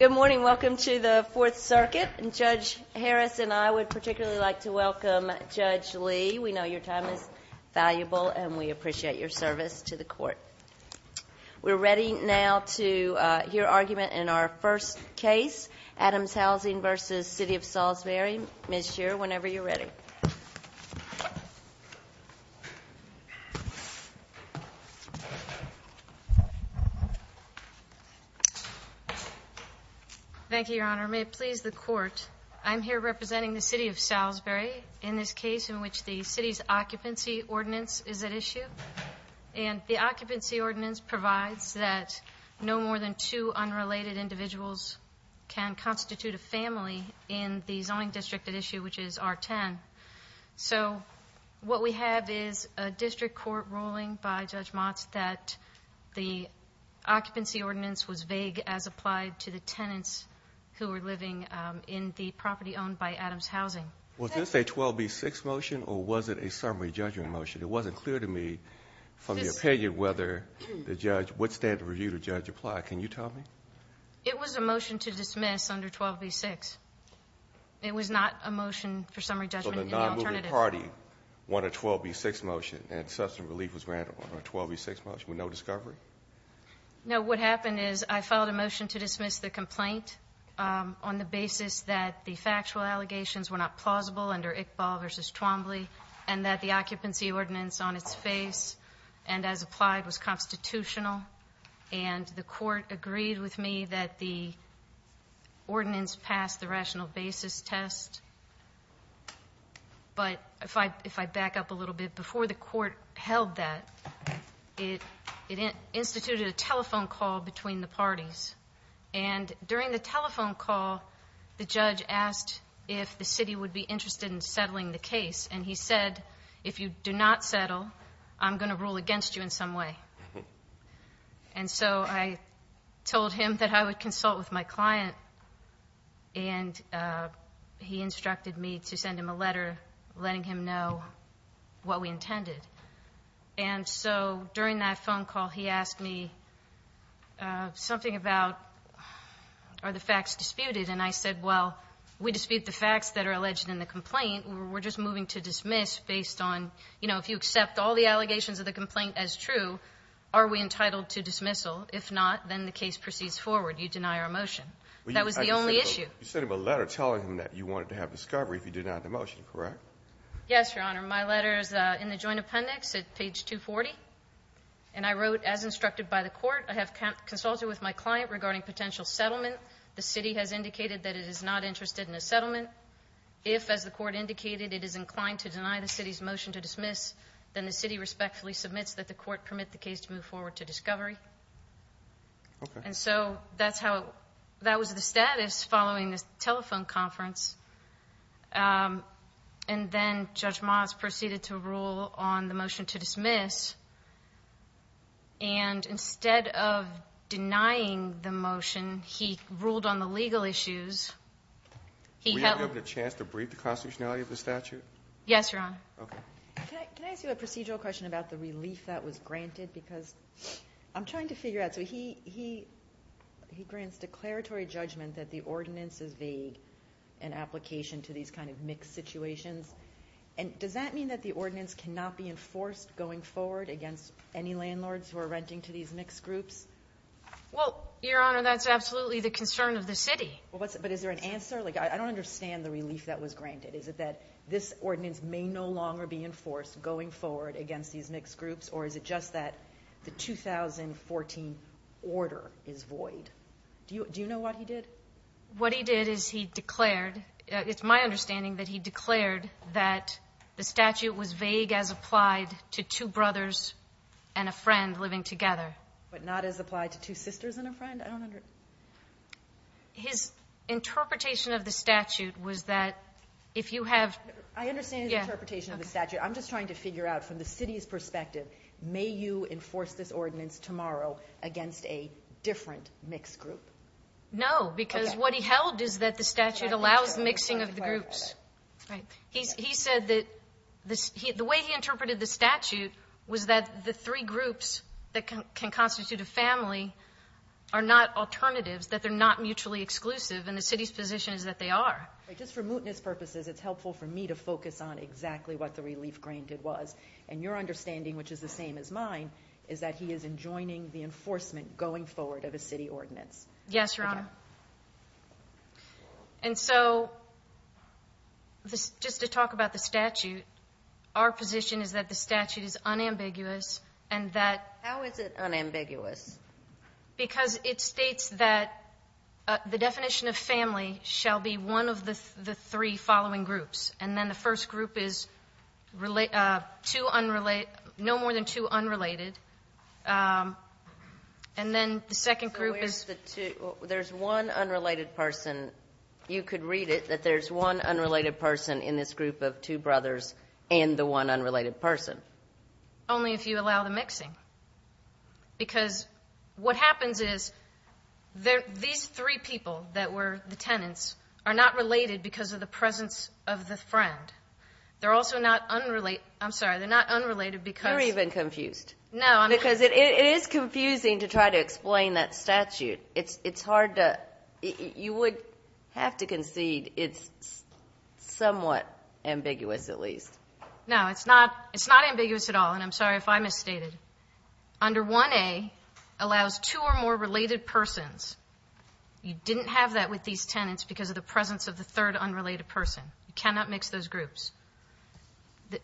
Good morning. Welcome to the Fourth Circuit. Judge Harris and I would particularly like to welcome Judge Lee. We know your time is valuable and we appreciate your service to the court. We're ready now to hear argument in our first case, Adams Housing v. City of Salisbury. Ms. Shear, whenever you're ready. Thank you, Your Honor. May it please the court, I'm here representing the City of Salisbury in this case in which the city's occupancy ordinance is at issue. And the occupancy ordinance provides that no more than two unrelated individuals can constitute a family in the zoning district at issue, which is R10. So what we have is a district court ruling by Judge Motz that the occupancy ordinance was vague as applied to the tenants who were living in the property owned by Adams Housing. Was this a 12B6 motion or was it a summary judgment motion? It wasn't clear to me from the opinion whether the judge, what standard review the judge applied. Can you tell me? It was a motion to dismiss under 12B6. It was not a motion for summary judgment in the alternative. So the non-moving party wanted a 12B6 motion and substantive relief was granted on a 12B6 motion with no discovery? No, what happened is I filed a motion to dismiss the complaint on the basis that the factual allegations were not plausible under Iqbal v. Twombly, and that the occupancy ordinance on its face and as applied was constitutional. And the court agreed with me that the ordinance passed the rational basis test. But if I back up a little bit, before the court held that, it instituted a telephone call between the parties. And during the telephone call, the judge asked if the city would be interested in settling the case. And he said, if you do not settle, I'm going to rule against you in some way. And so I told him that I would consult with my client. And he instructed me to send him a letter letting him know what we intended. And so during that phone call, he asked me something about, are the facts disputed? And I said, well, we dispute the facts that are alleged in the complaint. We're just moving to dismiss based on, you know, if you accept all the allegations of the complaint as true, are we entitled to dismissal? If not, then the case proceeds forward. You deny our motion. That was the only issue. You sent him a letter telling him that you wanted to have discovery if he denied the motion, correct? Yes, Your Honor. My letter is in the joint appendix at page 240. And I wrote, as instructed by the court, I have consulted with my client regarding potential settlement. The city has indicated that it is not interested in a settlement. If, as the court indicated, it is inclined to deny the city's motion to dismiss, then the city respectfully submits that the court permit the case to move forward to discovery. Okay. And so that was the status following this telephone conference. And then Judge Moss proceeded to rule on the motion to dismiss. And instead of denying the motion, he ruled on the legal issues. Were you given a chance to brief the constitutionality of the statute? Yes, Your Honor. Okay. Can I ask you a procedural question about the relief that was granted? Because I'm trying to figure out. So he grants declaratory judgment that the ordinance is vague in application to these kind of mixed situations. And does that mean that the ordinance cannot be enforced going forward against any landlords who are renting to these mixed groups? Well, Your Honor, that's absolutely the concern of the city. But is there an answer? Like I don't understand the relief that was granted. Is it that this ordinance may no longer be enforced going forward against these mixed groups, or is it just that the 2014 order is void? Do you know what he did? What he did is he declared, it's my understanding that he declared that the statute was vague as applied to two brothers and a friend living together. But not as applied to two sisters and a friend? His interpretation of the statute was that if you have ---- I understand his interpretation of the statute. I'm just trying to figure out from the city's perspective, may you enforce this ordinance tomorrow against a different mixed group? No, because what he held is that the statute allows mixing of the groups. He said that the way he interpreted the statute was that the three groups that can constitute a family are not alternatives, that they're not mutually exclusive, and the city's position is that they are. Just for mootness purposes, it's helpful for me to focus on exactly what the relief granted was. And your understanding, which is the same as mine, is that he is enjoining the enforcement going forward of a city ordinance. Yes, Your Honor. And so just to talk about the statute, our position is that the statute is unambiguous and that ---- How is it unambiguous? Because it states that the definition of family shall be one of the three following groups. And then the first group is two unrelated ---- no more than two unrelated. And then the second group is ---- So where's the two? There's one unrelated person. You could read it that there's one unrelated person in this group of two brothers and the one unrelated person. Only if you allow the mixing. Because what happens is these three people that were the tenants are not related because of the presence of the friend. They're also not unrelated. I'm sorry. They're not unrelated because ---- You're even confused. No, I'm not. Because it is confusing to try to explain that statute. It's hard to ---- You would have to concede it's somewhat ambiguous at least. No, it's not. It's not ambiguous at all. And I'm sorry if I misstated. Under 1A allows two or more related persons. You didn't have that with these tenants because of the presence of the third unrelated person. You cannot mix those groups.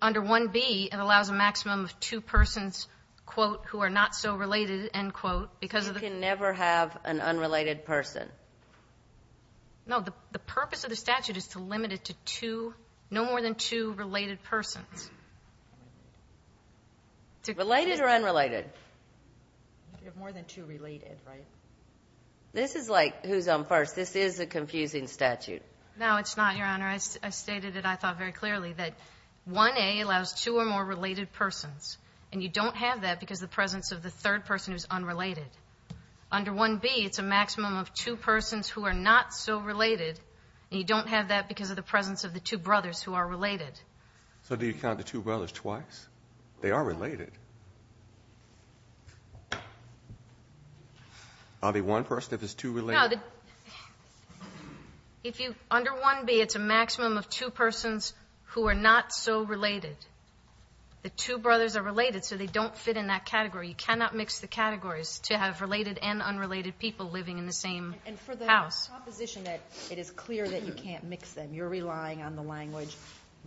Under 1B, it allows a maximum of two persons, quote, who are not so related, end quote, because of the ---- You can never have an unrelated person. No. The purpose of the statute is to limit it to two, no more than two related persons. Related or unrelated? More than two related, right? This is like who's on first. This is a confusing statute. No, it's not, Your Honor. I stated it, I thought, very clearly, that 1A allows two or more related persons. And you don't have that because of the presence of the third person who's unrelated. Under 1B, it's a maximum of two persons who are not so related. And you don't have that because of the presence of the two brothers who are related. So do you count the two brothers twice? They are related. Are they one person if it's two related? No, the ---- If you ---- Under 1B, it's a maximum of two persons who are not so related. The two brothers are related, so they don't fit in that category. You cannot mix the categories to have related and unrelated people living in the same house. And for the proposition that it is clear that you can't mix them, you're relying on the language,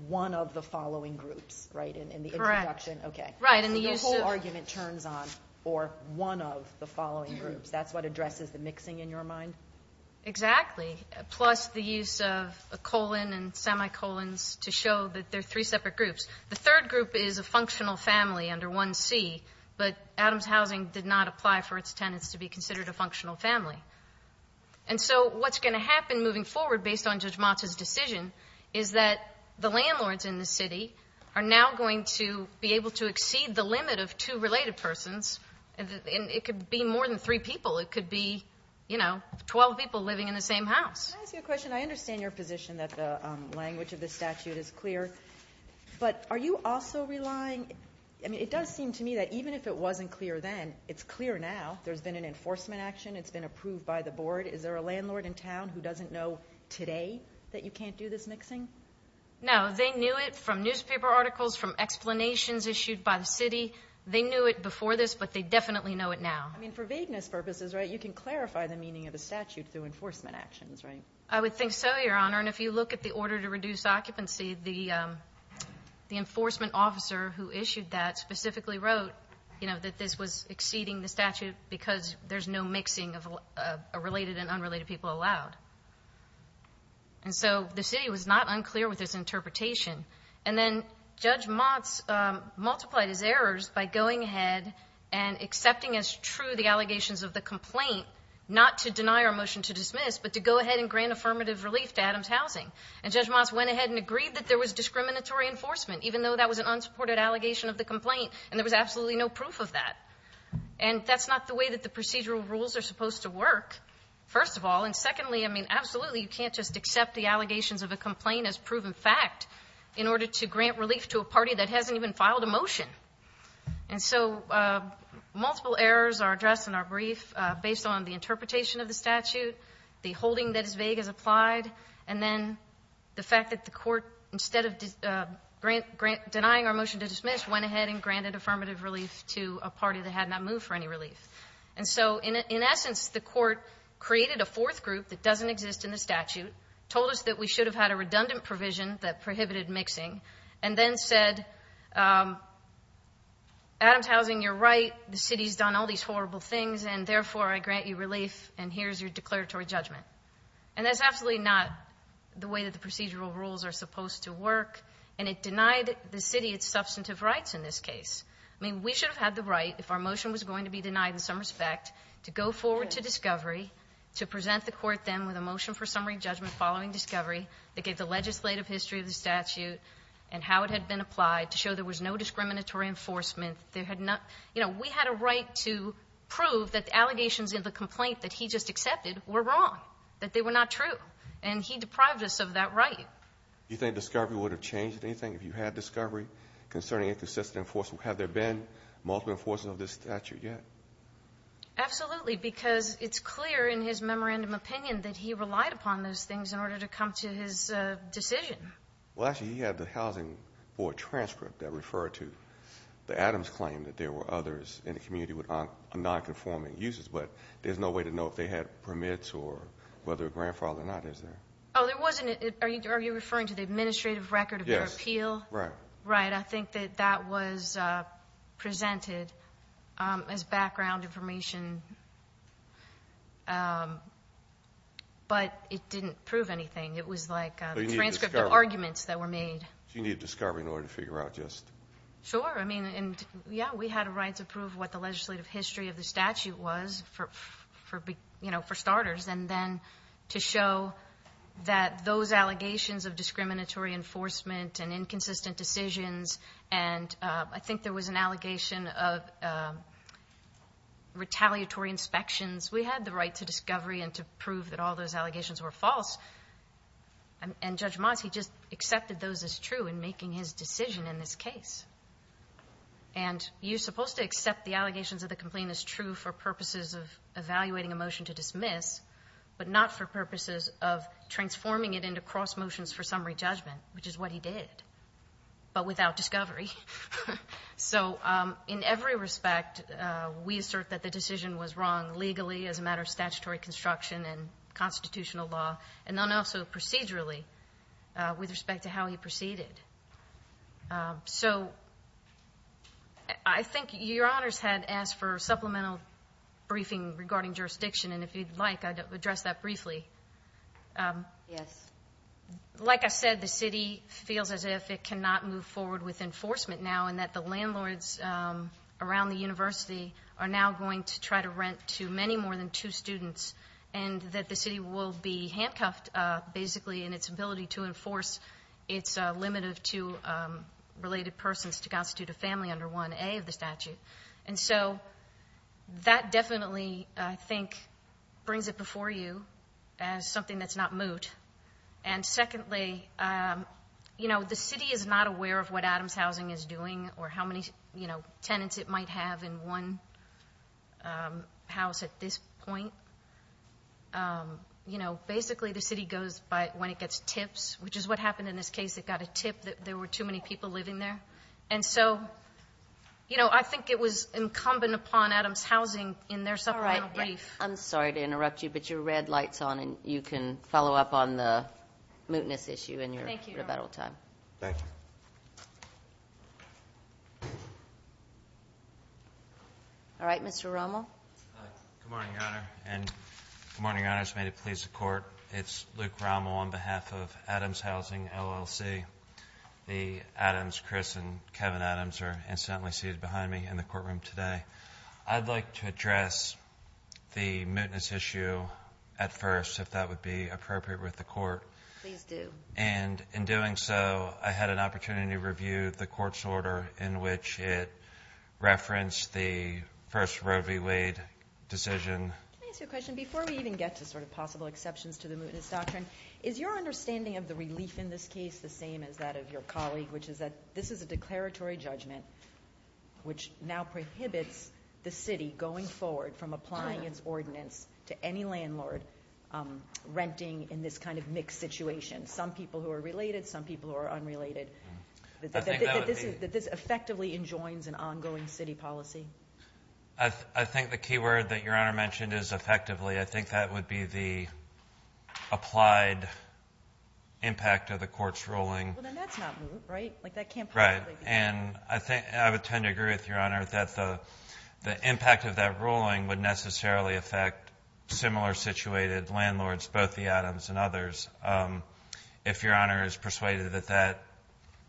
one of the following groups, right, in the introduction? Correct. Okay. Right, and the use of ---- So the whole argument turns on for one of the following groups. That's what addresses the mixing in your mind? Exactly, plus the use of colon and semicolons to show that they're three separate groups. The third group is a functional family under 1C, but Adams Housing did not apply for its tenants to be considered a functional family. And so what's going to happen moving forward based on Judge Motza's decision is that the landlords in the city are now going to be able to exceed the limit of two related persons, and it could be more than three people. It could be, you know, 12 people living in the same house. Can I ask you a question? I understand your position that the language of the statute is clear, but are you also relying? I mean, it does seem to me that even if it wasn't clear then, it's clear now. There's been an enforcement action. It's been approved by the board. Is there a landlord in town who doesn't know today that you can't do this mixing? No. They knew it from newspaper articles, from explanations issued by the city. They knew it before this, but they definitely know it now. I mean, for vagueness purposes, right, you can clarify the meaning of the statute through enforcement actions, right? I would think so, Your Honor. And if you look at the order to reduce occupancy, the enforcement officer who issued that specifically wrote, you know, that this was exceeding the statute because there's no mixing of related and unrelated people allowed. And so the city was not unclear with this interpretation. And then Judge Motz multiplied his errors by going ahead and accepting as true the allegations of the complaint, not to deny or motion to dismiss, but to go ahead and grant affirmative relief to Adams Housing. And Judge Motz went ahead and agreed that there was discriminatory enforcement, even though that was an unsupported allegation of the complaint. And there was absolutely no proof of that. And that's not the way that the procedural rules are supposed to work, first of all. And secondly, I mean, absolutely you can't just accept the allegations of a complaint as proven fact in order to grant relief to a party that hasn't even filed a motion. And so multiple errors are addressed in our brief based on the interpretation of the statute, the holding that is vague as applied, and then the fact that the court, instead of denying our motion to dismiss, went ahead and granted affirmative relief to a party that had not moved for any relief. And so in essence, the court created a fourth group that doesn't exist in the statute, told us that we should have had a redundant provision that prohibited mixing, and then said, Adams Housing, you're right, the city's done all these horrible things, and therefore I grant you relief, and here's your declaratory judgment. And that's absolutely not the way that the procedural rules are supposed to work. And it denied the city its substantive rights in this case. I mean, we should have had the right, if our motion was going to be denied in some respect, to go forward to discovery, to present the court then with a motion for summary judgment following discovery that gave the legislative history of the statute and how it had been applied to show there was no discriminatory enforcement. We had a right to prove that the allegations in the complaint that he just accepted were wrong, that they were not true. And he deprived us of that right. Do you think discovery would have changed anything if you had discovery concerning inconsistent enforcement? Have there been multiple enforcement of this statute yet? Absolutely, because it's clear in his memorandum opinion that he relied upon those things in order to come to his decision. Well, actually, he had the housing board transcript that referred to the Adams claim that there were others in the community with nonconforming uses, but there's no way to know if they had permits or whether a grandfather or not is there? Oh, there wasn't. Are you referring to the administrative record of their appeal? Yes. Right. I think that that was presented as background information, but it didn't prove anything. It was like a transcript of arguments that were made. So you need discovery in order to figure out just — Sure. I mean, yeah, we had a right to prove what the legislative history of the statute was for starters, and then to show that those allegations of discriminatory enforcement and inconsistent decisions, and I think there was an allegation of retaliatory inspections. We had the right to discovery and to prove that all those allegations were false, and Judge Moss, he just accepted those as true in making his decision in this case. And you're supposed to accept the allegations of the complaint as true for purposes of evaluating a motion to dismiss, but not for purposes of transforming it into cross motions for summary judgment, which is what he did, but without discovery. So in every respect, we assert that the decision was wrong legally, as a matter of statutory construction and constitutional law, and then also procedurally with respect to how he proceeded. So I think Your Honors had asked for a supplemental briefing regarding jurisdiction, and if you'd like, I'd address that briefly. Yes. Like I said, the city feels as if it cannot move forward with enforcement now, and that the landlords around the university are now going to try to rent to many more than two students, and that the city will be handcuffed, basically, in its ability to enforce its limit of two related persons to constitute a family under 1A of the statute. And so that definitely, I think, brings it before you as something that's not moot. And secondly, you know, the city is not aware of what Adams Housing is doing or how many, you know, tenants it might have in one house at this point. You know, basically the city goes by when it gets tips, which is what happened in this case. It got a tip that there were too many people living there. And so, you know, I think it was incumbent upon Adams Housing in their supplemental brief. I'm sorry to interrupt you, but your red light's on, and you can follow up on the mootness issue in your rebuttal time. Thank you. All right, Mr. Rommel. Good morning, Your Honor, and good morning, Your Honors. May it please the Court. It's Luke Rommel on behalf of Adams Housing, LLC. The Adams, Chris and Kevin Adams, are incidentally seated behind me in the courtroom today. I'd like to address the mootness issue at first, if that would be appropriate with the Court. Please do. And in doing so, I had an opportunity to review the Court's order in which it referenced the first Roe v. Wade decision. Can I ask you a question? Before we even get to sort of possible exceptions to the mootness doctrine, is your understanding of the relief in this case the same as that of your colleague, which is that this is a declaratory judgment which now prohibits the city going forward from applying its ordinance to any landlord renting in this kind of mixed situation, some people who are related, some people who are unrelated, that this effectively enjoins an ongoing city policy? I think the key word that Your Honor mentioned is effectively. I think that would be the applied impact of the Court's ruling. Well, then that's not moot, right? Like that can't possibly be moot. Right. And I would tend to agree with Your Honor that the impact of that ruling would necessarily affect similar situated landlords, both the Adams and others. If Your Honor is persuaded that that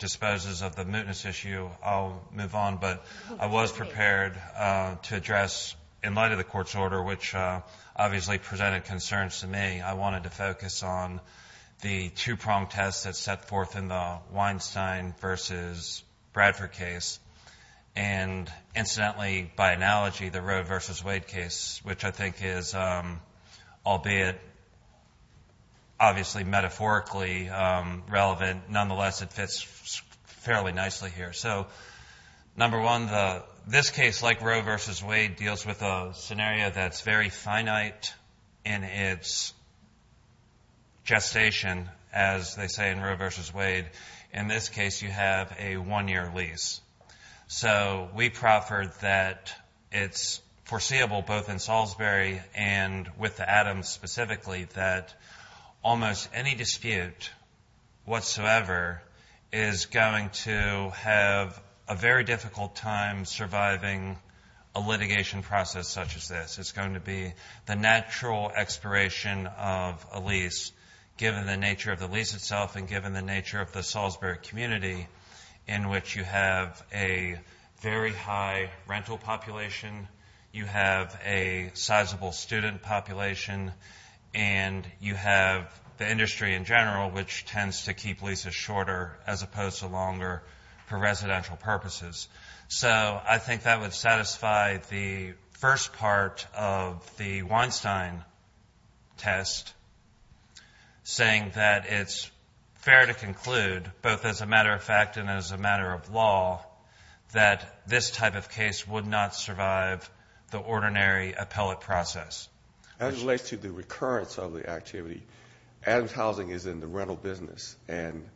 disposes of the mootness issue, I'll move on. But I was prepared to address, in light of the Court's order, which obviously presented concerns to me, I wanted to focus on the two-prong test that's set forth in the Weinstein v. Bradford case and, incidentally, by analogy, the Roe v. Wade case, which I think is, albeit obviously metaphorically relevant, nonetheless it fits fairly nicely here. So, number one, this case, like Roe v. Wade, deals with a scenario that's very finite in its gestation, as they say in Roe v. Wade. In this case, you have a one-year lease. So we proffered that it's foreseeable, both in Salisbury and with the Adams specifically, that almost any dispute whatsoever is going to have a very difficult time surviving a litigation process such as this. It's going to be the natural expiration of a lease, given the nature of the lease itself and given the nature of the Salisbury community, in which you have a very high rental population, you have a sizable student population, and you have the industry in general, which tends to keep leases shorter as opposed to longer for residential purposes. So I think that would satisfy the first part of the Weinstein test, saying that it's fair to conclude, both as a matter of fact and as a matter of law, that this type of case would not survive the ordinary appellate process. As it relates to the recurrence of the activity, Adams Housing is in the rental business, and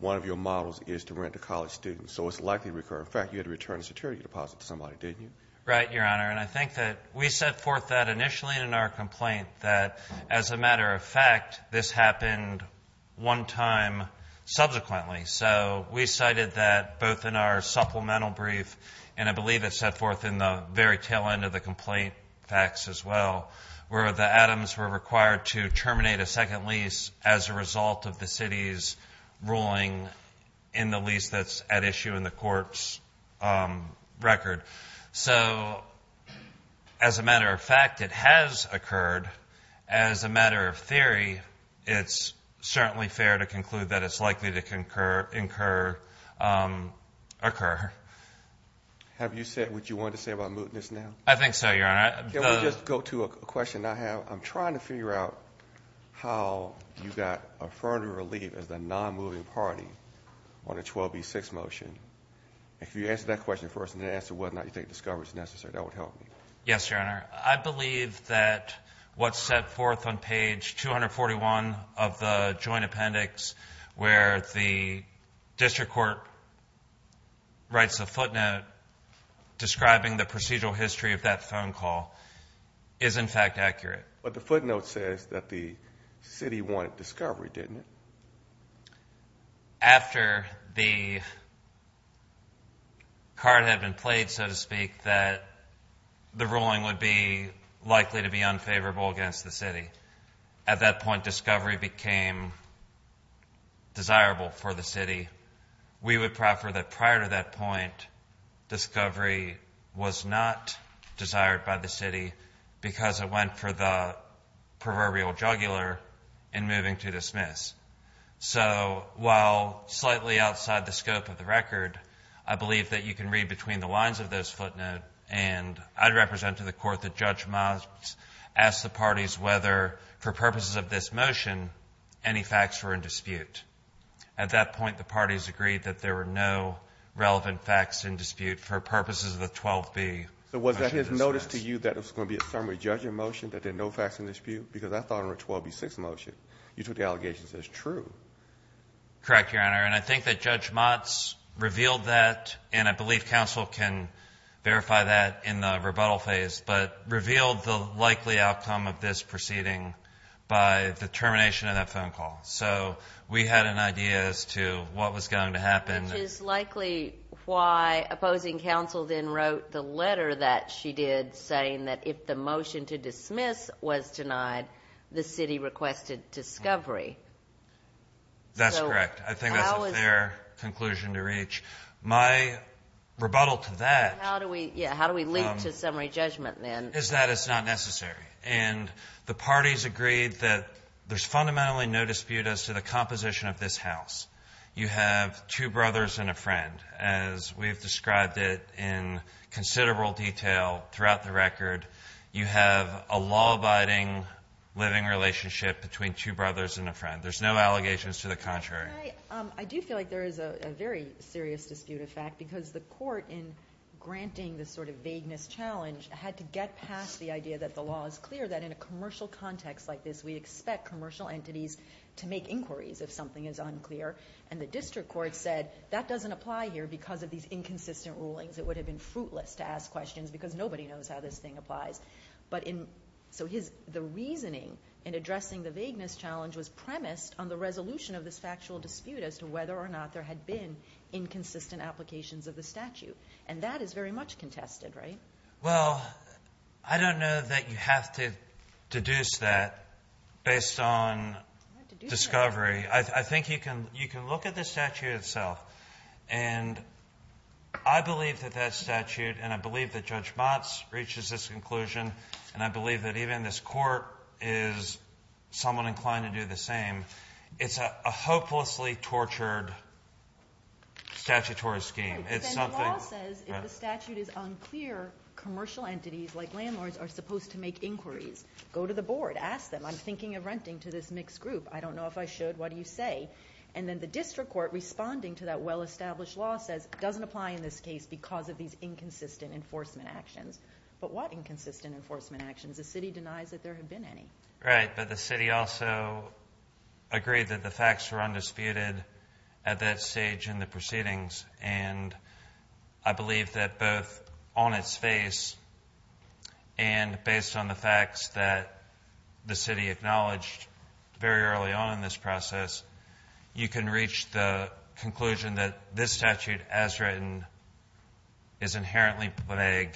one of your models is to rent to college students. So it's likely to recur. In fact, you had to return a security deposit to somebody, didn't you? Right, Your Honor, and I think that we set forth that initially in our complaint, that as a matter of fact, this happened one time subsequently. So we cited that both in our supplemental brief, and I believe it's set forth in the very tail end of the complaint fax as well, where the Adams were required to terminate a second lease as a result of the city's ruling in the lease that's at issue in the court's record. So as a matter of fact, it has occurred. As a matter of theory, it's certainly fair to conclude that it's likely to occur. Have you said what you wanted to say about mootness now? I think so, Your Honor. Can we just go to a question I have? I'm trying to figure out how you got a further relief as the non-moving party on the 12B6 motion. If you could answer that question first, and then answer whether or not you think discovery is necessary, that would help me. Yes, Your Honor. I believe that what's set forth on page 241 of the joint appendix, where the district court writes a footnote describing the procedural history of that phone call, is in fact accurate. But the footnote says that the city wanted discovery, didn't it? After the card had been played, so to speak, that the ruling would be likely to be unfavorable against the city, at that point discovery became desirable for the city. We would prefer that prior to that point discovery was not desired by the city because it went for the proverbial jugular in moving to dismiss. So while slightly outside the scope of the record, I believe that you can read between the lines of this footnote, and I'd represent to the court that Judge Miles asked the parties whether, for purposes of this motion, any facts were in dispute. At that point the parties agreed that there were no relevant facts in dispute for purposes of the 12B. So was that his notice to you that it was going to be a summary judging motion, that there are no facts in dispute? Because I thought it was a 12B6 motion. You took the allegations as true. Correct, Your Honor. And I think that Judge Motz revealed that, and I believe counsel can verify that in the rebuttal phase, but revealed the likely outcome of this proceeding by the termination of that phone call. So we had an idea as to what was going to happen. Which is likely why opposing counsel then wrote the letter that she did saying that if the motion to dismiss was denied, the city requested discovery. That's correct. I think that's a fair conclusion to reach. My rebuttal to that is that it's not necessary. And the parties agreed that there's fundamentally no dispute as to the composition of this house. You have two brothers and a friend, as we've described it in considerable detail throughout the record. You have a law-abiding living relationship between two brothers and a friend. There's no allegations to the contrary. I do feel like there is a very serious dispute, in fact, because the court, in granting this sort of vagueness challenge, had to get past the idea that the law is clear, that in a commercial context like this, we expect commercial entities to make inquiries if something is unclear. And the district court said, that doesn't apply here because of these inconsistent rulings. It would have been fruitless to ask questions because nobody knows how this thing applies. But in so his the reasoning in addressing the vagueness challenge was premised on the resolution of this factual dispute as to whether or not there had been inconsistent applications of the statute. And that is very much contested, right? Well, I don't know that you have to deduce that based on discovery. I think you can look at the statute itself, and I believe that that statute, and I believe that Judge Motz reaches this conclusion, and I believe that even this court is somewhat inclined to do the same. It's a hopelessly tortured statutory scheme. It's not the law says if the statute is unclear, commercial entities like landlords are supposed to make inquiries. Go to the board. Ask them. I'm thinking of renting to this mixed group. I don't know if I should. What do you say? And then the district court, responding to that well-established law, says it doesn't apply in this case because of these inconsistent enforcement actions. But what inconsistent enforcement actions? The city denies that there have been any. Right, but the city also agreed that the facts were undisputed at that stage in the proceedings. And I believe that both on its face and based on the facts that the city acknowledged very early on in this process, you can reach the conclusion that this statute as written is inherently vague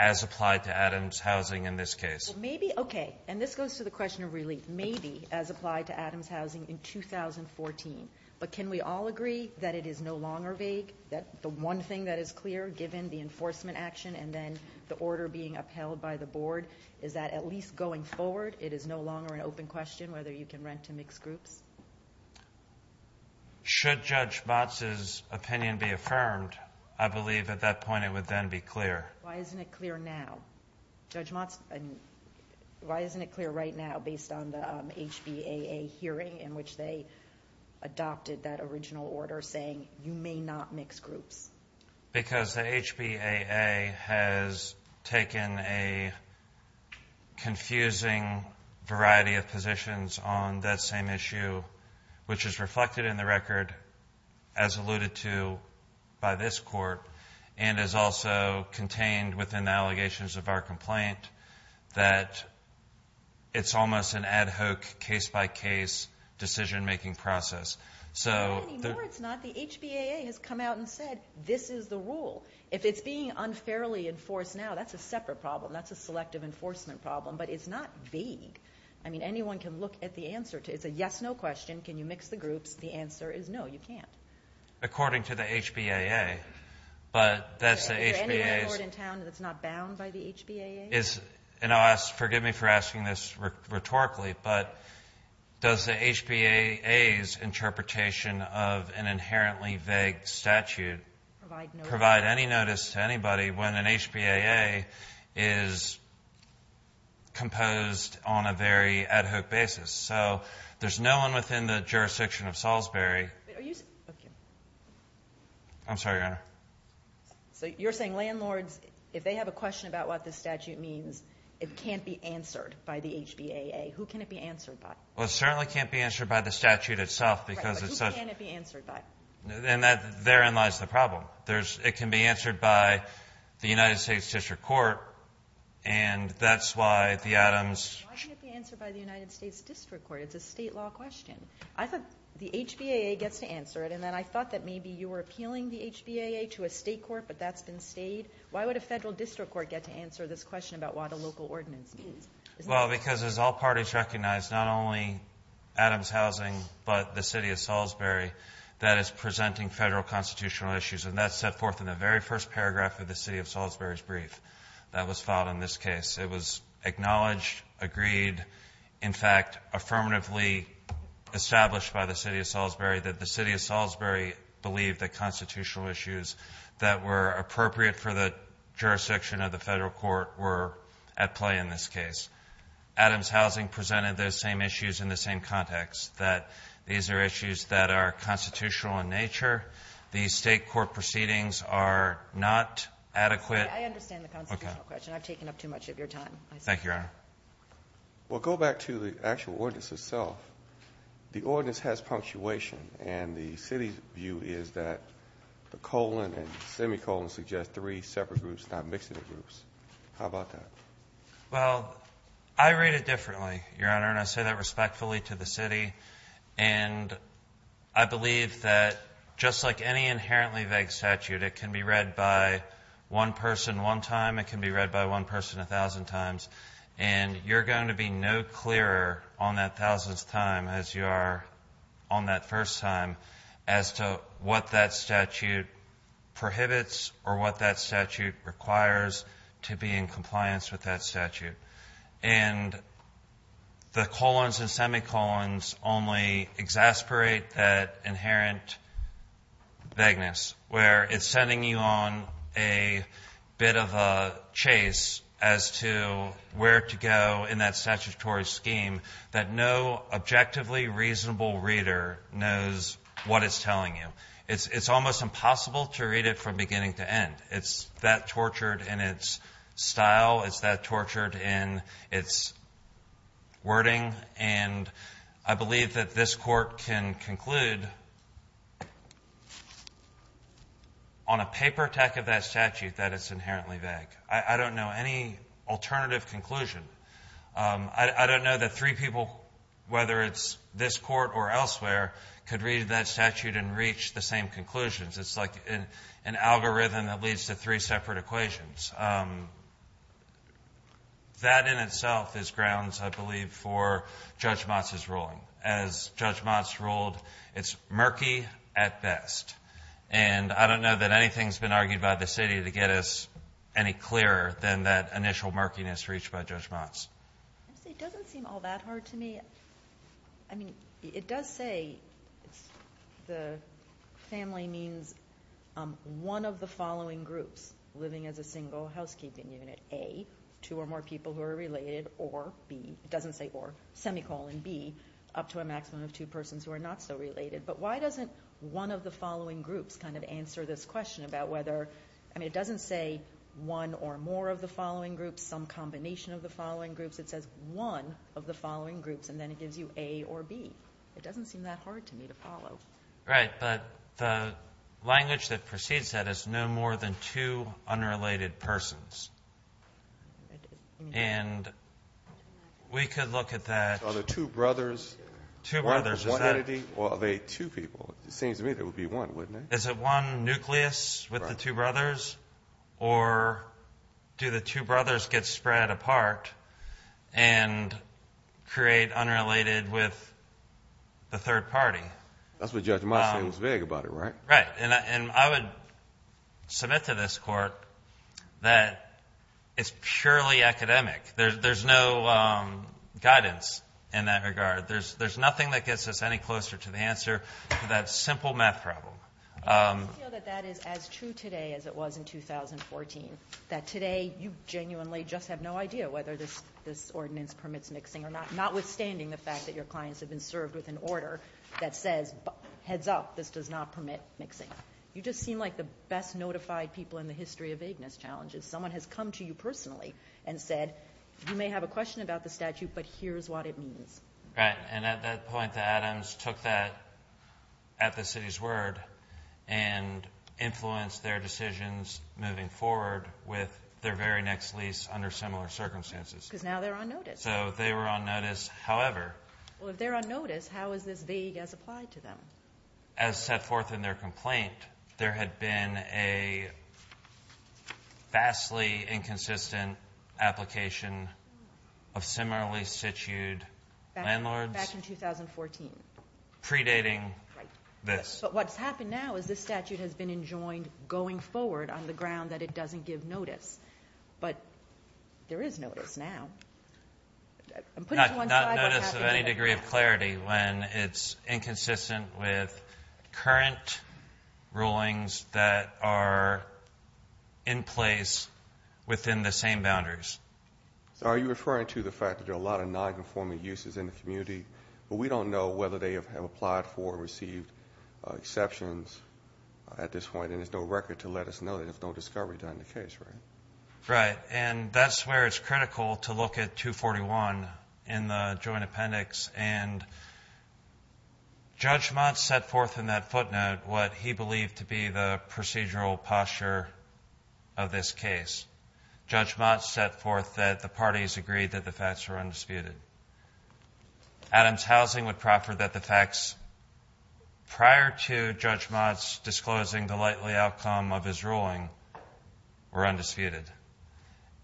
as applied to Adams Housing in this case. Well, maybe, okay, and this goes to the question of relief. Maybe as applied to Adams Housing in 2014, but can we all agree that it is no longer vague, that the one thing that is clear given the enforcement action and then the order being upheld by the board, is that at least going forward it is no longer an open question whether you can rent to mixed groups? Should Judge Motz's opinion be affirmed? I believe at that point it would then be clear. Why isn't it clear now? Judge Motz, why isn't it clear right now based on the HBAA hearing in which they adopted that original order saying you may not mix groups? Because the HBAA has taken a confusing variety of positions on that same issue, which is reflected in the record, as alluded to by this court, and is also contained within the allegations of our complaint, that it's almost an ad hoc case-by-case decision-making process. It's not. The HBAA has come out and said this is the rule. If it's being unfairly enforced now, that's a separate problem. That's a selective enforcement problem. But it's not vague. I mean, anyone can look at the answer. It's a yes-no question. Can you mix the groups? The answer is no, you can't. According to the HBAA, but that's the HBAA's. Is there any record in town that's not bound by the HBAA? Forgive me for asking this rhetorically, but does the HBAA's interpretation of an inherently vague statute provide any notice to anybody when an HBAA is composed on a very ad hoc basis? So there's no one within the jurisdiction of Salisbury. I'm sorry, Your Honor. So you're saying landlords, if they have a question about what this statute means, it can't be answered by the HBAA? Who can it be answered by? Well, it certainly can't be answered by the statute itself, because it's such a ---- Right. But who can it be answered by? And therein lies the problem. It can be answered by the United States district court, and that's why the Adams ---- Why can't it be answered by the United States district court? It's a State law question. I thought the HBAA gets to answer it, and then I thought that maybe you were appealing the HBAA to a State court, but that's been stayed. Why would a Federal district court get to answer this question about what a local ordinance means? Well, because as all parties recognize, not only Adams housing, but the City of Salisbury that is presenting Federal constitutional issues, and that's set forth in the very first paragraph of the City of Salisbury's brief that was filed in this case. It was acknowledged, agreed, in fact, affirmatively established by the City of Salisbury that the City of Salisbury believed that constitutional issues that were appropriate for the jurisdiction of the Federal court were at play in this case. Adams housing presented those same issues in the same context, that these are issues that are constitutional in nature. These State court proceedings are not adequate. I understand the constitutional question. I've taken up too much of your time. Thank you, Your Honor. Well, go back to the actual ordinance itself. The ordinance has punctuation, and the City's view is that the colon and semicolon suggest three separate groups, not mixing the groups. How about that? Well, I read it differently, Your Honor, and I say that respectfully to the City. And I believe that just like any inherently vague statute, it can be read by one person one time. It can be read by one person a thousand times. And you're going to be no clearer on that thousandth time as you are on that first time as to what that statute prohibits or what that statute requires to be in compliance with that statute. And the colons and semicolons only exasperate that inherent vagueness, where it's sending you on a bit of a chase as to where to go in that statutory scheme that no objectively reasonable reader knows what it's telling you. It's almost impossible to read it from beginning to end. It's that tortured in its style. It's that tortured in its wording. And I believe that this Court can conclude on a paper tech of that statute that it's inherently vague. I don't know any alternative conclusion. I don't know that three people, whether it's this Court or elsewhere, could read that statute and reach the same conclusions. It's like an algorithm that leads to three separate equations. That in itself is grounds, I believe, for Judge Motz's ruling. As Judge Motz ruled, it's murky at best. And I don't know that anything's been argued by the City to get us any clearer than that by Judge Motz. It doesn't seem all that hard to me. I mean, it does say the family means one of the following groups living as a single housekeeping unit. A, two or more people who are related, or B, it doesn't say or, semicolon B, up to a maximum of two persons who are not so related. But why doesn't one of the following groups kind of answer this question about whether I mean, it doesn't say one or more of the following groups, some combination of the following groups. It says one of the following groups, and then it gives you A or B. It doesn't seem that hard to me to follow. Right. But the language that precedes that is no more than two unrelated persons. And we could look at that. Are there two brothers? Two brothers. One entity? Or are they two people? It seems to me there would be one, wouldn't it? Is it one nucleus with the two brothers? Right. Or do the two brothers get spread apart and create unrelated with the third party? That's what Judge Miles said was vague about it, right? Right. And I would submit to this Court that it's purely academic. There's no guidance in that regard. There's nothing that gets us any closer to the answer to that simple math problem. I feel that that is as true today as it was in 2014. That today you genuinely just have no idea whether this ordinance permits mixing or not, notwithstanding the fact that your clients have been served with an order that says, heads up, this does not permit mixing. You just seem like the best notified people in the history of vagueness challenges. Someone has come to you personally and said, you may have a question about the statute, but here's what it means. Right. And at that point, the Adams took that at the city's word and influenced their decisions moving forward with their very next lease under similar circumstances. Because now they're on notice. So they were on notice. However. Well, if they're on notice, how is this vague as applied to them? As set forth in their complaint, there had been a vastly inconsistent application of similarly situated landlords. Back in 2014. Predating this. Right. But what's happened now is this statute has been enjoined going forward on the ground that it doesn't give notice. But there is notice now. I'm putting it to one side. Notice of any degree of clarity when it's inconsistent with current rulings that are in place within the same boundaries. So are you referring to the fact that there are a lot of nonconforming uses in the community, but we don't know whether they have applied for or received exceptions at this point, and there's no record to let us know. There's no discovery done in the case, right? Right. And that's where it's critical to look at 241 in the joint appendix. And Judge Mott set forth in that footnote what he believed to be the procedural posture of this case. Judge Mott set forth that the parties agreed that the facts were undisputed. Adam's housing would proffer that the facts prior to Judge Mott's disclosing the likely outcome of his ruling were undisputed.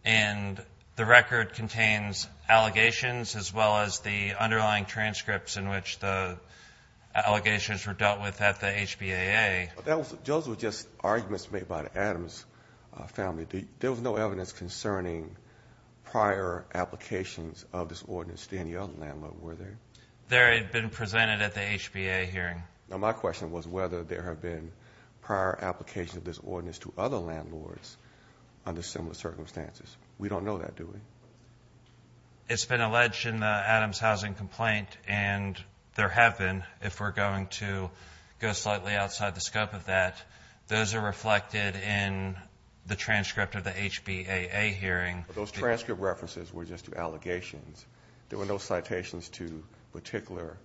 And the record contains allegations as well as the underlying transcripts in which the allegations were dealt with at the HBAA. Those were just arguments made by Adam's family. There was no evidence concerning prior applications of this ordinance to any other landlord, were there? They had been presented at the HBAA hearing. Now, my question was whether there have been prior applications of this ordinance to other landlords under similar circumstances. We don't know that, do we? It's been alleged in the Adam's housing complaint, and there have been, if we're going to go slightly outside the scope of that. Those are reflected in the transcript of the HBAA hearing. Those transcript references were just allegations. There were no citations to particular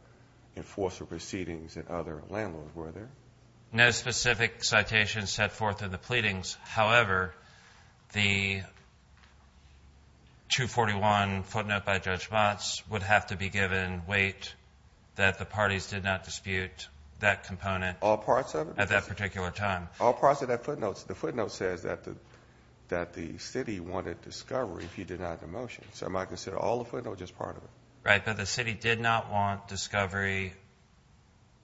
enforcer proceedings and other landlords, were there? No specific citations set forth in the pleadings. However, the 241 footnote by Judge Mott's would have to be given weight that the parties did not dispute that component. All parts of it? At that particular time. All parts of that footnote. The footnote says that the city wanted discovery if you denied the motion. So am I to consider all the footnote or just part of it? Right, but the city did not want discovery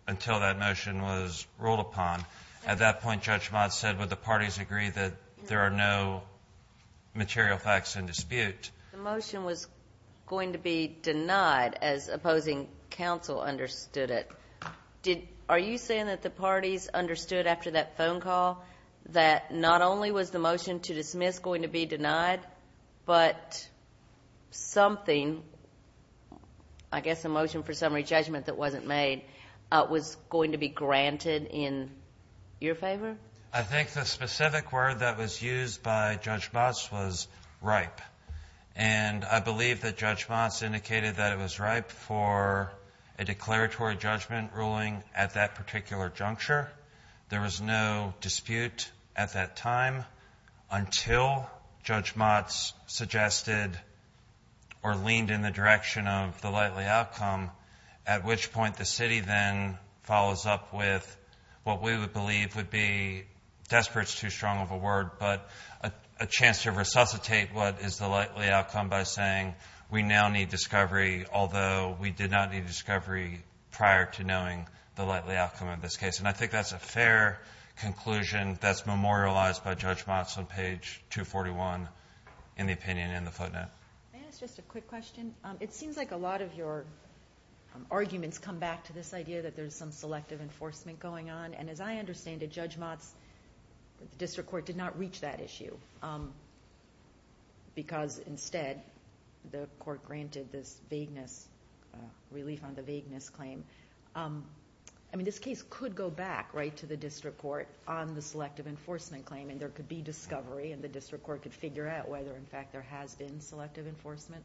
until that motion was ruled upon. At that point, Judge Mott said, would the parties agree that there are no material facts in dispute? The motion was going to be denied as opposing counsel understood it. Are you saying that the parties understood after that phone call that not only was the motion to dismiss going to be denied, but something, I guess a motion for summary judgment that wasn't made, was going to be granted in your favor? I think the specific word that was used by Judge Mott's was ripe. And I believe that Judge Mott's indicated that it was ripe for a declaratory judgment ruling at that particular juncture. There was no dispute at that time until Judge Mott's suggested or leaned in the direction of the likely outcome, at which point the city then follows up with what we would believe would be, desperate is too strong of a word, but a chance to resuscitate what is the likely outcome by saying we now need discovery, although we did not need discovery prior to knowing the likely outcome of this case. And I think that's a fair conclusion that's memorialized by Judge Mott's on page 241 in the opinion in the footnote. May I ask just a quick question? It seems like a lot of your arguments come back to this idea that there's some selective enforcement going on. And as I understand it, Judge Mott's district court did not reach that issue because instead the court granted this vagueness relief on the vagueness claim. I mean, this case could go back right to the district court on the selective enforcement claim and there could be discovery and the district court could figure out whether in fact there has been selective enforcement.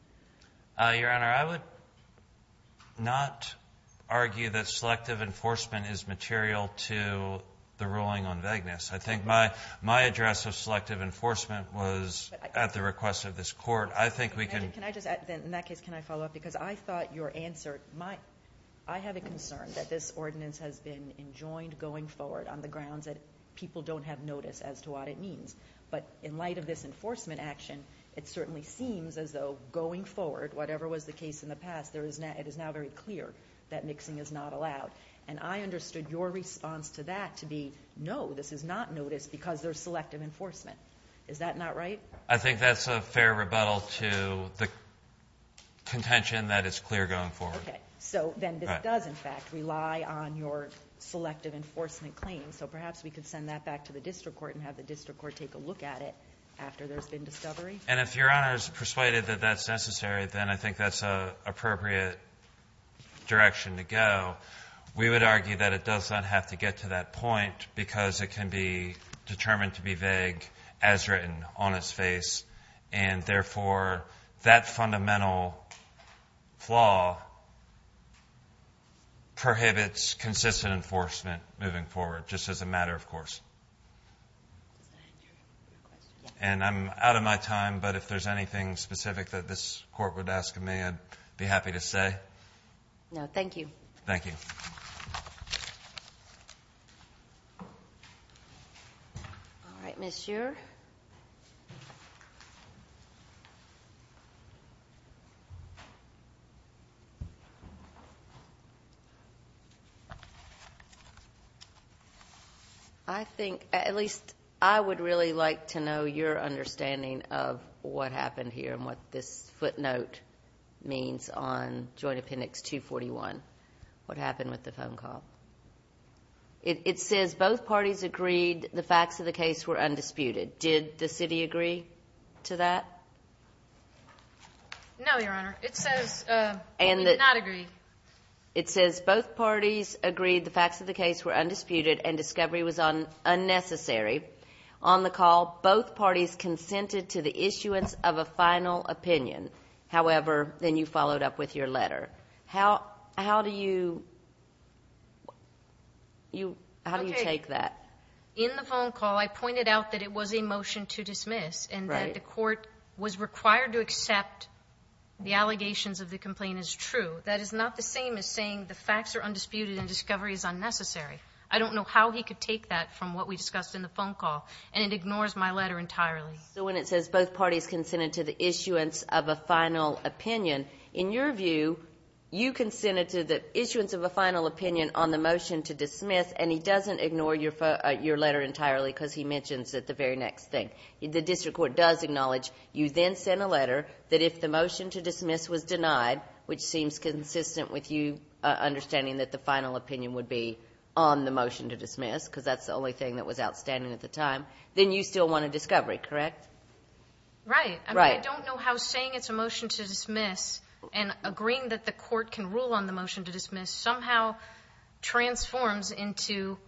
Your Honor, I would not argue that selective enforcement is material to the ruling on vagueness. I think my address of selective enforcement was at the request of this court. I think we can. Can I just, in that case, can I follow up? Because I thought your answer, my, I have a concern that this ordinance has been enjoined going forward on the grounds that people don't have notice as to what it means. But in light of this enforcement action, it certainly seems as though going forward, whatever was the case in the past, there is now, it is now very clear that mixing is not allowed. And I understood your response to that to be, no, this is not noticed because there's selective enforcement. Is that not right? I think that's a fair rebuttal to the contention that it's clear going forward. Okay. So then this does, in fact, rely on your selective enforcement claim. So perhaps we could send that back to the district court and have the district court take a look at it after there's been discovery. And if Your Honor is persuaded that that's necessary, then I think that's an appropriate direction to go. We would argue that it does not have to get to that point because it can be determined to be vague as written on its face. And therefore, that fundamental flaw prohibits consistent enforcement moving forward, just as a matter of course. And I'm out of my time, but if there's anything specific that this court would ask of me, I'd be happy to say. No, thank you. Thank you. Thank you. All right, Ms. Shearer. I think at least I would really like to know your understanding of what happened here and what this footnote means on Joint Appendix 241. What happened with the phone call? It says both parties agreed the facts of the case were undisputed. Did the city agree to that? No, Your Honor. It says we did not agree. It says both parties agreed the facts of the case were undisputed and discovery was unnecessary. On the call, both parties consented to the issuance of a final opinion. However, then you followed up with your letter. How do you take that? Okay. In the phone call, I pointed out that it was a motion to dismiss and that the court was required to accept the allegations of the complaint as true. That is not the same as saying the facts are undisputed and discovery is unnecessary. I don't know how he could take that from what we discussed in the phone call, and it ignores my letter entirely. So when it says both parties consented to the issuance of a final opinion, in your view, you consented to the issuance of a final opinion on the motion to dismiss, and he doesn't ignore your letter entirely because he mentions it the very next thing. The district court does acknowledge you then sent a letter that if the motion to dismiss was denied, which seems consistent with you understanding that the final opinion would be on the motion to dismiss because that's the only thing that was outstanding at the time, then you still want a discovery, correct? Right. Right. But I don't know how saying it's a motion to dismiss and agreeing that the court can rule on the motion to dismiss somehow transforms into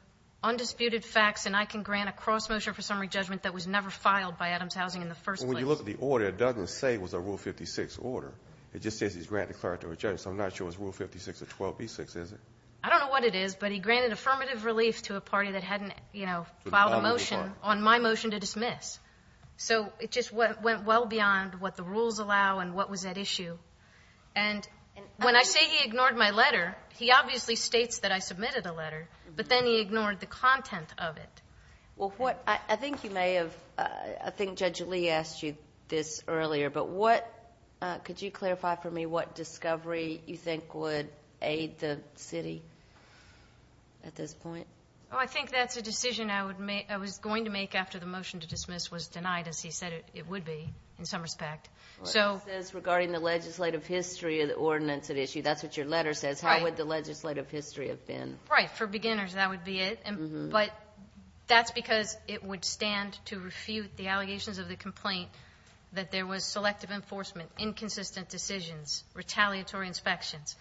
undisputed facts and I can grant a cross-motion for summary judgment that was never filed by Adams Housing in the first place. But when you look at the order, it doesn't say it was a Rule 56 order. It just says he's granted clarity of a judgment. So I'm not sure it's Rule 56 of 12b6, is it? I don't know what it is, but he granted affirmative relief to a party that hadn't, you know, filed a motion on my motion to dismiss. So it just went well beyond what the rules allow and what was at issue. And when I say he ignored my letter, he obviously states that I submitted a letter, but then he ignored the content of it. Well, what I think you may have, I think Judge Lee asked you this earlier, but what, could you clarify for me what discovery you think would aid the city at this point? Oh, I think that's a decision I was going to make after the motion to dismiss was denied, as he said it would be in some respect. It says regarding the legislative history of the ordinance at issue. That's what your letter says. How would the legislative history have been? Right. For beginners, that would be it. But that's because it would stand to refute the allegations of the complaint that there was selective enforcement, inconsistent decisions, retaliatory inspections.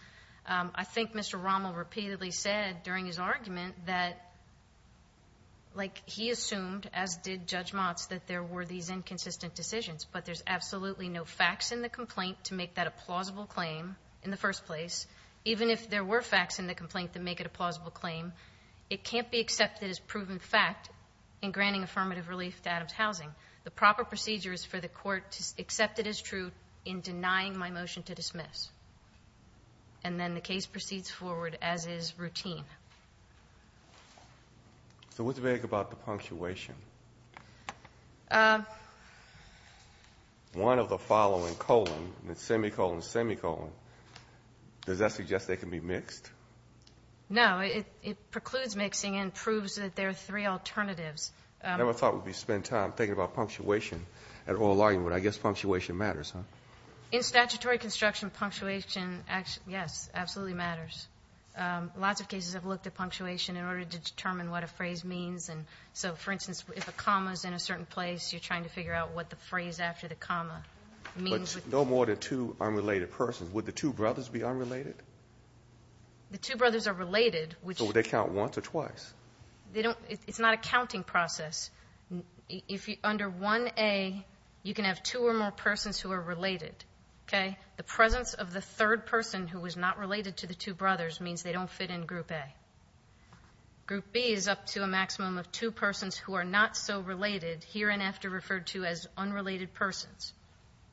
I think Mr. Rommel repeatedly said during his argument that, like, he assumed, as did Judge Motz, that there were these inconsistent decisions. But there's absolutely no facts in the complaint to make that a plausible claim in the first place. Even if there were facts in the complaint that make it a plausible claim, it can't be accepted as proven fact in granting affirmative relief to Adams Housing. The proper procedure is for the court to accept it as true in denying my motion to dismiss. And then the case proceeds forward as is routine. So what's vague about the punctuation? One of the following colon, semicolon, semicolon, does that suggest they can be mixed? No. It precludes mixing and proves that there are three alternatives. I never thought we'd spend time thinking about punctuation at oral argument. I guess punctuation matters, huh? In statutory construction, punctuation, yes, absolutely matters. Lots of cases have looked at punctuation in order to determine what a phrase means. And so, for instance, if a comma is in a certain place, you're trying to figure out what the phrase after the comma means. But no more than two unrelated persons. Would the two brothers be unrelated? The two brothers are related. So would they count once or twice? It's not a counting process. Under 1A, you can have two or more persons who are related, okay? The presence of the third person who is not related to the two brothers means they don't fit in Group A. Group B is up to a maximum of two persons who are not so related, here and after referred to as unrelated persons,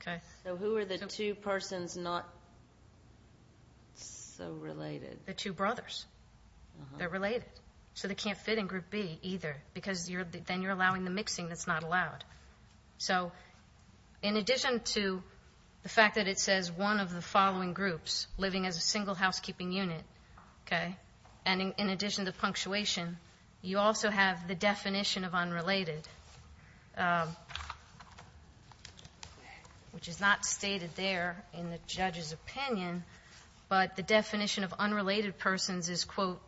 okay? So who are the two persons not so related? The two brothers. They're related. So they can't fit in Group B either because then you're allowing the mixing that's not allowed. So in addition to the fact that it says one of the following groups living as a single housekeeping unit, okay, and in addition to punctuation, you also have the definition of unrelated, which is not stated there in the judge's opinion, but the definition of unrelated persons is, quote,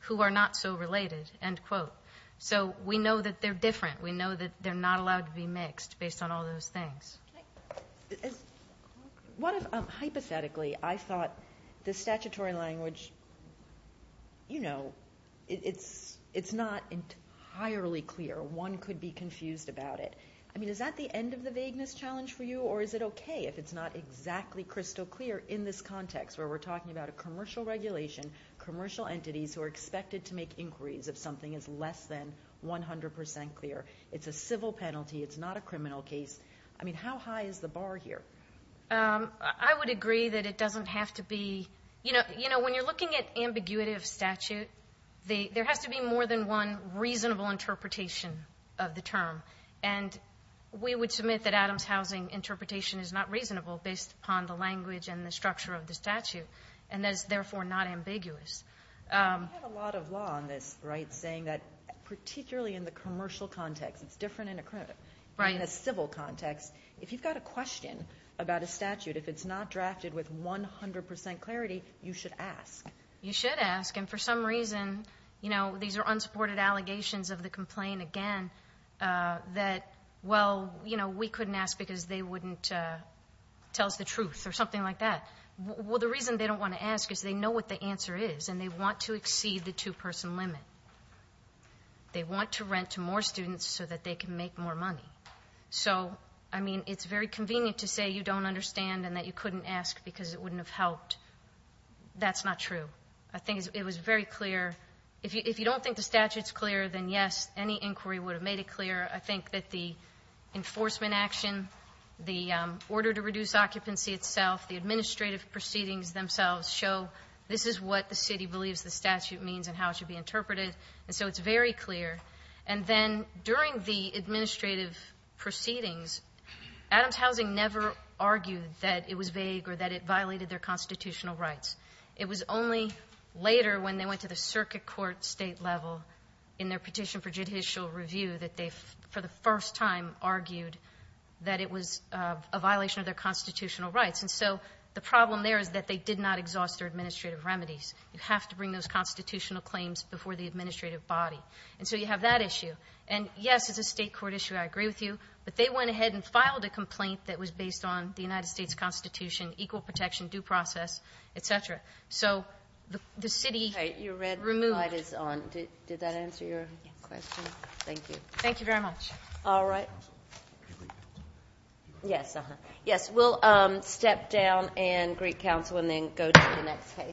who are not so related, end quote. So we know that they're different. We know that they're not allowed to be mixed based on all those things. Hypothetically, I thought the statutory language, you know, it's not entirely clear. One could be confused about it. I mean, is that the end of the vagueness challenge for you, or is it okay if it's not exactly crystal clear in this context where we're talking about a commercial regulation, commercial entities who are expected to make inquiries if something is less than 100% clear? It's a civil penalty. It's not a criminal case. I mean, how high is the bar here? I would agree that it doesn't have to be. You know, when you're looking at ambiguity of statute, there has to be more than one reasonable interpretation of the term, and we would submit that Adams Housing interpretation is not reasonable based upon the language and the structure of the statute, and is therefore not ambiguous. We have a lot of law on this, right, saying that particularly in the commercial context, it's different in a civil context. If you've got a question about a statute, if it's not drafted with 100% clarity, you should ask. You should ask, and for some reason, you know, these are unsupported allegations of the complaint, again, that, well, you know, we couldn't ask because they wouldn't tell us the truth or something like that. Well, the reason they don't want to ask is they know what the answer is, and they want to exceed the two-person limit. They want to rent to more students so that they can make more money. So, I mean, it's very convenient to say you don't understand and that you couldn't ask because it wouldn't have helped. That's not true. I think it was very clear. If you don't think the statute's clear, then, yes, any inquiry would have made it clear. I think that the enforcement action, the order to reduce occupancy itself, the administrative proceedings themselves show this is what the city believes the statute means and how it should be interpreted. And so it's very clear. And then during the administrative proceedings, Adams Housing never argued that it was vague or that it violated their constitutional rights. It was only later when they went to the circuit court state level in their petition for judicial review that they, for the first time, argued that it was a violation of their constitutional rights. And so the problem there is that they did not exhaust their administrative remedies. You have to bring those constitutional claims before the administrative body. And so you have that issue. And, yes, it's a state court issue. I agree with you. But they went ahead and filed a complaint that was based on the United States Constitution, equal protection, due process, et cetera. So the city removed the statute. Okay. Your red light is on. Did that answer your question? Yes. Thank you. Thank you very much. All right. Yes. We'll step down and greet counsel and then go to the next case.